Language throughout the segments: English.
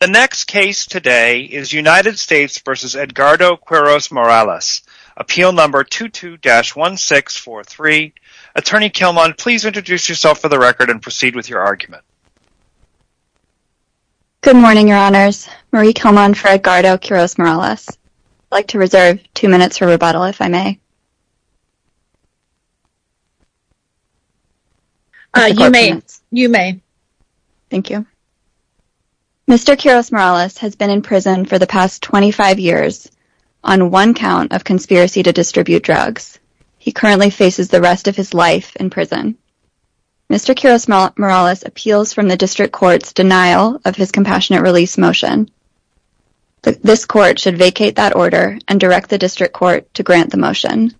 The next case today is United States v. Edgardo Quiros-Morales. Appeal number 22-1643. Attorney Kilmon, please introduce yourself for the record and proceed with your argument. Good morning, Your Honors. Marie Kilmon for Edgardo Quiros-Morales. I'd like to reserve two minutes for rebuttal, if I may. You may. You may. Thank you. Mr. Quiros-Morales has been in prison for the past 25 years on one count of conspiracy to distribute drugs. He currently faces the rest of his life in prison. Mr. Quiros-Morales appeals from the District Court's denial of his compassionate release motion. This Court should vacate that order and direct the District Court to grant the motion.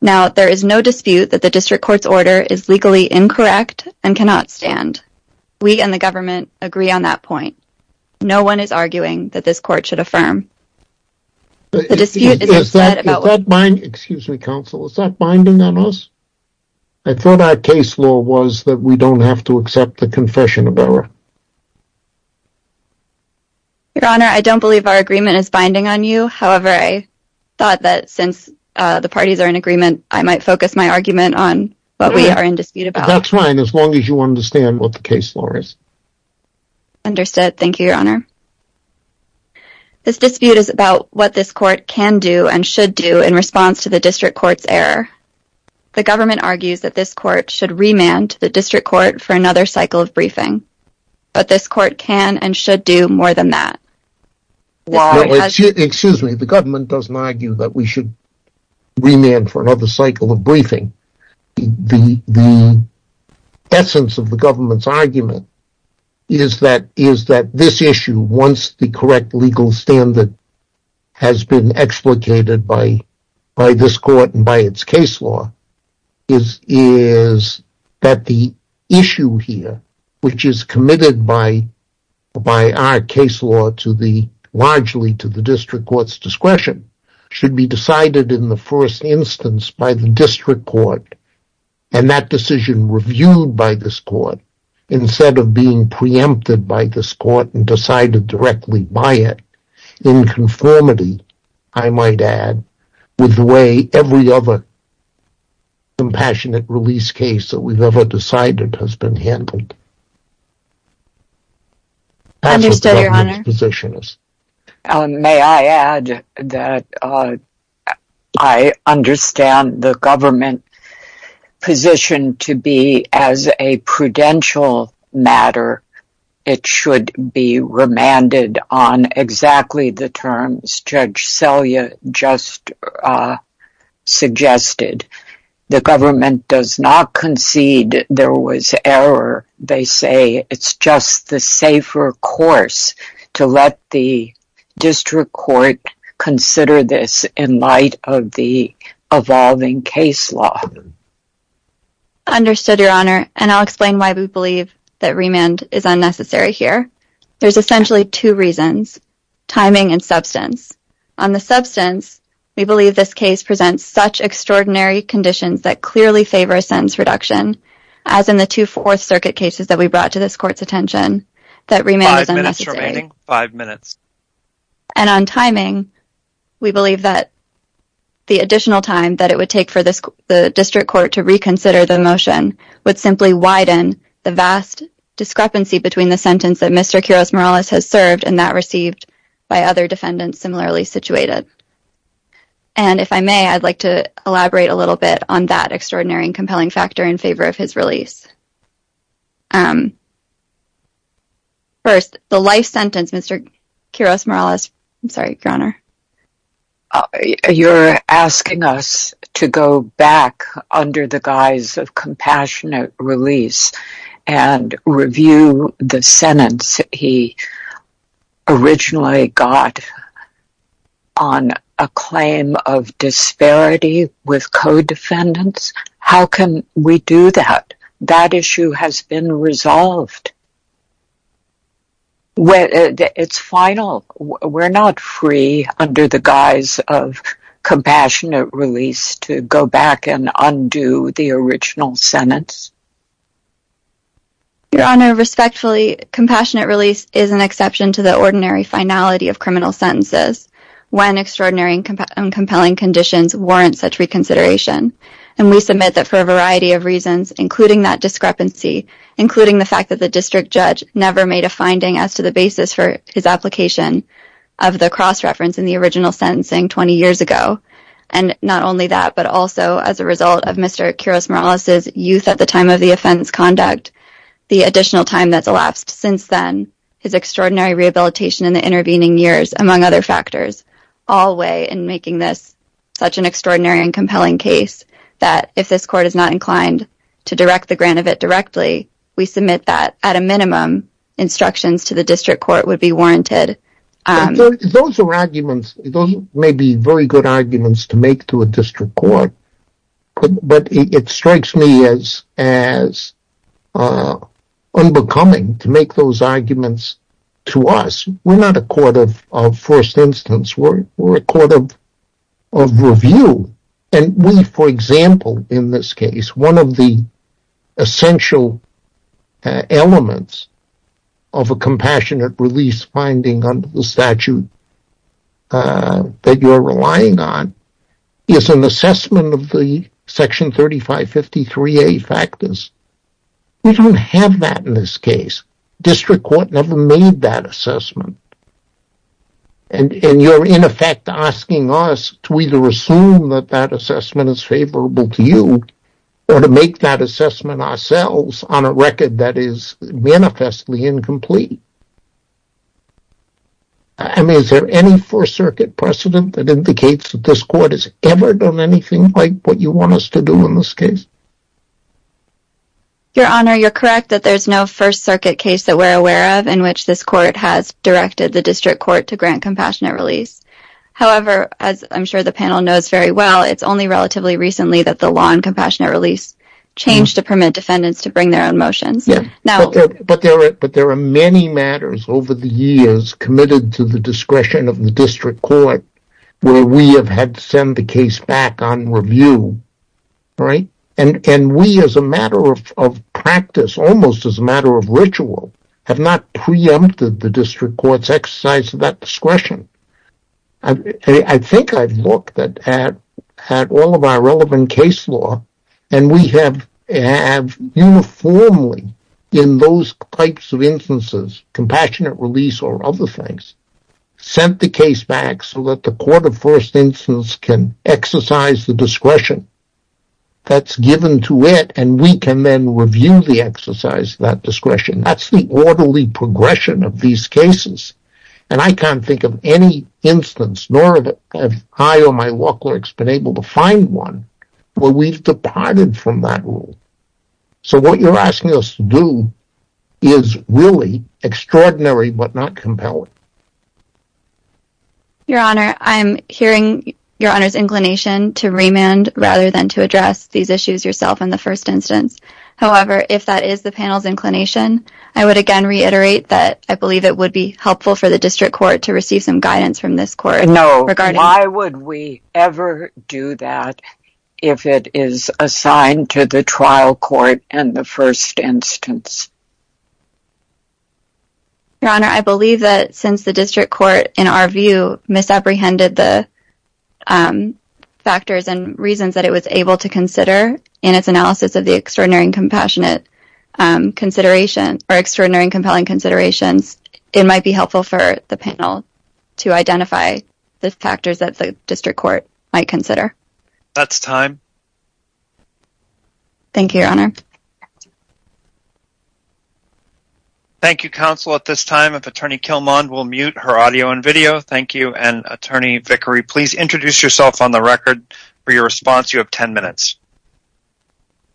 Now, there is no dispute that the District Court's order is legally incorrect and cannot stand. We and the government agree on that point. No one is arguing that this Court should affirm. Excuse me, Counsel. Is that binding on us? I thought our case law was that we don't have to accept the confession of error. Your Honor, I don't believe our agreement is binding on you. However, I thought that since the parties are in agreement, I might focus my argument on what we are in dispute about. That's fine, as long as you understand what the case law is. Understood. Thank you, Your Honor. This dispute is about what this Court can do and should do in response to the District Court's error. The government argues that this Court should remand the District Court for another cycle of briefing. But this Court can and should do more than that. Excuse me, the government doesn't argue that we should remand for another cycle of briefing. The essence of the government's argument is that this issue, once the correct legal standard has been explicated by this Court and by its case law, is that the issue here, which is committed by our case law largely to the District Court's discretion, should be decided in the first instance by the District Court, and that decision reviewed by this Court, instead of being preempted by this Court and decided directly by it, in conformity, I might add, with the way every other compassionate release case that we've ever decided has been handled. Understood, Your Honor. May I add that I understand the government position to be, as a prudential matter, it should be remanded on exactly the terms Judge Selya just suggested. The government does not concede there was error. They say it's just the safer course to let the District Court consider this in light of the evolving case law. Understood, Your Honor, and I'll explain why we believe that remand is unnecessary here. There's essentially two reasons, timing and substance. On the substance, we believe this case presents such extraordinary conditions that clearly favor a sentence reduction, as in the two Fourth Circuit cases that we brought to this Court's attention, that remand is unnecessary. Five minutes remaining. Five minutes. And on timing, we believe that the additional time that it would take for the District Court to reconsider the motion would simply widen the vast discrepancy between the sentence that Mr. Quiroz-Morales has served and that received by other defendants similarly situated. And if I may, I'd like to elaborate a little bit on that extraordinary and compelling factor in favor of his release. First, the life sentence, Mr. Quiroz-Morales, I'm sorry, Your Honor. You're asking us to go back under the guise of compassionate release and review the sentence he originally got on a claim of disparity with co-defendants? How can we do that? That issue has been resolved. It's final. We're not free under the guise of compassionate release to go back and undo the original sentence. Your Honor, respectfully, compassionate release is an exception to the ordinary finality of criminal sentences when extraordinary and compelling conditions warrant such reconsideration. And we submit that for a variety of reasons, including that discrepancy, including the fact that the district judge never made a finding as to the basis for his application of the cross-reference in the original sentencing 20 years ago. And not only that, but also as a result of Mr. Quiroz-Morales' youth at the time of the offense conduct, the additional time that's elapsed since then, his extraordinary rehabilitation in the intervening years, among other factors, all weigh in making this such an extraordinary and compelling case that if this court is not inclined to direct the grant of it directly, we submit that at a minimum instructions to the district court would be warranted. Those are arguments. Those may be very good arguments to make to a district court. But it strikes me as unbecoming to make those arguments to us. We're not a court of first instance. We're a court of review. And we, for example, in this case, one of the essential elements of a compassionate release finding under the statute that you're relying on is an assessment of the Section 3553A factors. We don't have that in this case. District court never made that assessment. And you're, in effect, asking us to either assume that that assessment is favorable to you or to make that assessment ourselves on a record that is manifestly incomplete. I mean, is there any First Circuit precedent that indicates that this court has ever done anything like what you want us to do in this case? Your Honor, you're correct that there's no First Circuit case that we're aware of in which this court has directed the district court to grant compassionate release. However, as I'm sure the panel knows very well, it's only relatively recently that the law on compassionate release changed to permit defendants to bring their own motions. But there are many matters over the years committed to the discretion of the district court where we have had to send the case back on review. And we, as a matter of practice, almost as a matter of ritual, have not preempted the district court's exercise of that discretion. I think I've looked at all of our relevant case law, and we have uniformly, in those types of instances, compassionate release or other things, sent the case back so that the court of first instance can exercise the discretion that's given to it, and we can then review the exercise of that discretion. That's the orderly progression of these cases. And I can't think of any instance, nor have I or my law clerks been able to find one, where we've departed from that rule. So what you're asking us to do is really extraordinary but not compelling. Your Honor, I'm hearing your Honor's inclination to remand rather than to address these issues yourself in the first instance. However, if that is the panel's inclination, I would again reiterate that I believe it would be helpful for the district court to receive some guidance from this court. No. Why would we ever do that if it is assigned to the trial court and the first instance? Your Honor, I believe that since the district court, in our view, misapprehended the factors and reasons that it was able to consider in its analysis of the extraordinary and compelling considerations, it might be helpful for the panel to identify the factors that the district court might consider. That's time. Thank you, Your Honor. Thank you, counsel. At this time, if Attorney Kilmon will mute her audio and video. Thank you. And Attorney Vickery, please introduce yourself on the record for your response. You have 10 minutes.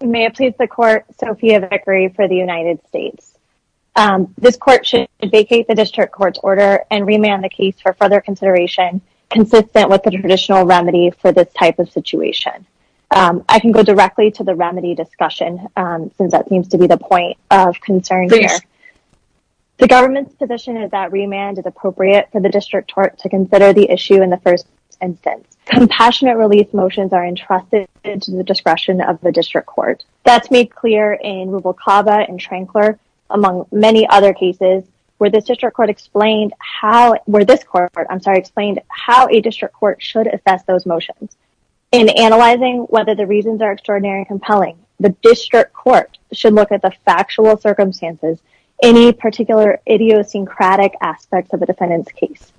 May it please the court, Sophia Vickery for the United States. This court should vacate the district court's order and remand the case for further consideration consistent with the traditional remedy for this type of situation. I can go directly to the remedy discussion since that seems to be the point of concern here. The government's position is that remand is appropriate for the district court to consider the issue in the first instance. Compassionate relief motions are entrusted to the discretion of the district court. That's made clear in Rubalcaba and Trankler, among many other cases, where this district court explained how a district court should assess those motions. In analyzing whether the reasons are extraordinary and compelling, the district court should look at the factual circumstances, any particular idiosyncratic aspects of the defendant's case.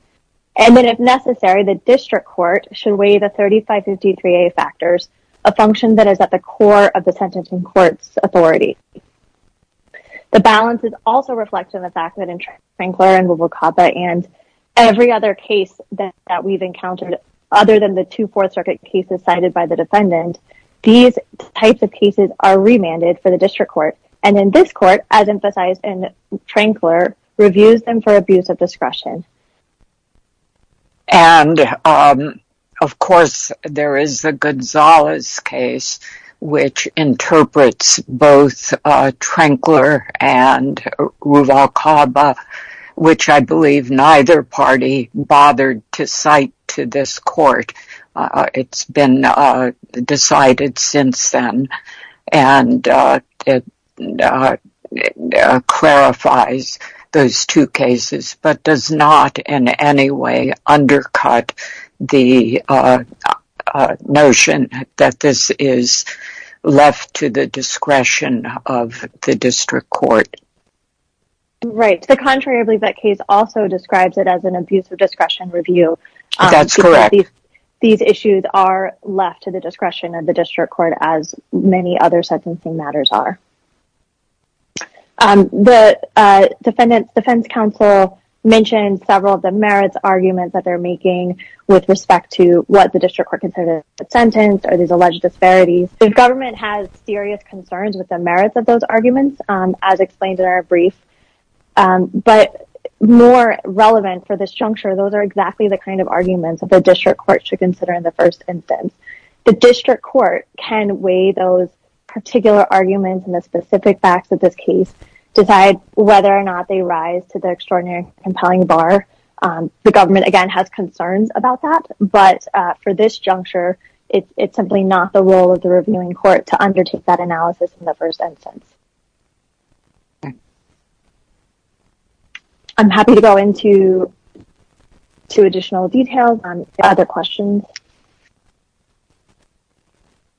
And then, if necessary, the district court should weigh the 3553A factors, a function that is at the core of the sentencing court's authority. The balance is also reflected in the fact that in Trankler and Rubalcaba and every other case that we've encountered, other than the two Fourth Circuit cases cited by the defendant, these types of cases are remanded for the district court. And in this court, as emphasized in Trankler, reviews them for abuse of discretion. And, of course, there is the Gonzalez case, which interprets both Trankler and Rubalcaba, which I believe neither party bothered to cite to this court. It's been decided since then, and it clarifies those two cases, but does not in any way undercut the notion that this is left to the discretion of the district court. Right. To the contrary, I believe that case also describes it as an abuse of discretion review. That's correct. These issues are left to the discretion of the district court, as many other sentencing matters are. The defense counsel mentioned several of the merits arguments that they're making with respect to what the district court considers a sentence or these alleged disparities. The government has serious concerns with the merits of those arguments, as explained in our brief. But more relevant for this juncture, those are exactly the kind of arguments that the district court should consider in the first instance. The district court can weigh those particular arguments and the specific facts of this case, decide whether or not they rise to the extraordinary compelling bar. The government, again, has concerns about that. But for this juncture, it's simply not the role of the reviewing court to undertake that analysis in the first instance. I'm happy to go into additional details on other questions.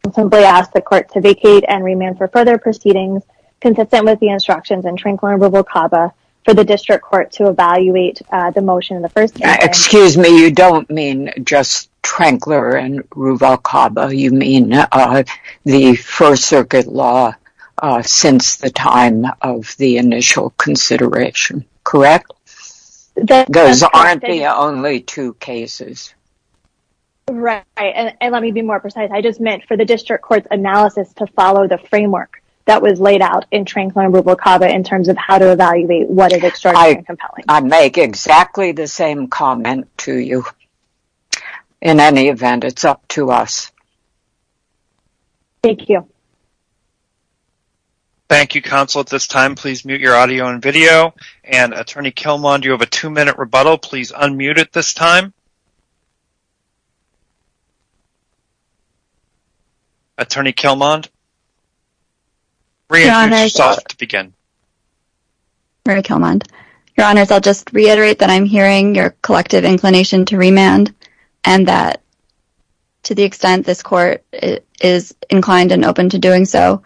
I'll simply ask the court to vacate and remand for further proceedings consistent with the instructions in Trankler and Ruvalcaba for the district court to evaluate the motion in the first instance. Excuse me, you don't mean just Trankler and Ruvalcaba. You mean the First Circuit law since the time of the initial consideration, correct? Those aren't the only two cases. Right, and let me be more precise. I just meant for the district court's analysis to follow the framework that was laid out in Trankler and Ruvalcaba in terms of how to evaluate what is extraordinary and compelling. I'd make exactly the same comment to you. In any event, it's up to us. Thank you. Thank you, counsel. At this time, please mute your audio and video. Attorney Kilmon, do you have a two-minute rebuttal? Please unmute at this time. Attorney Kilmon, reintroduce yourself to begin. Mary Kilmon. Your Honors, I'll just reiterate that I'm hearing your collective inclination to remand and that to the extent this court is inclined and open to doing so,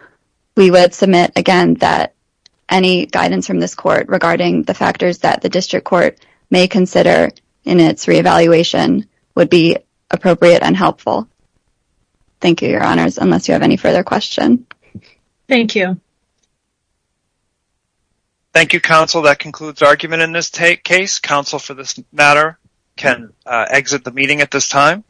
we would submit again that any guidance from this court regarding the factors that the district court may consider in its reevaluation would be appropriate and helpful. Thank you, Your Honors, unless you have any further questions. Thank you. Thank you, counsel. That concludes argument in this case. Counsel, for this matter, can exit the meeting at this time.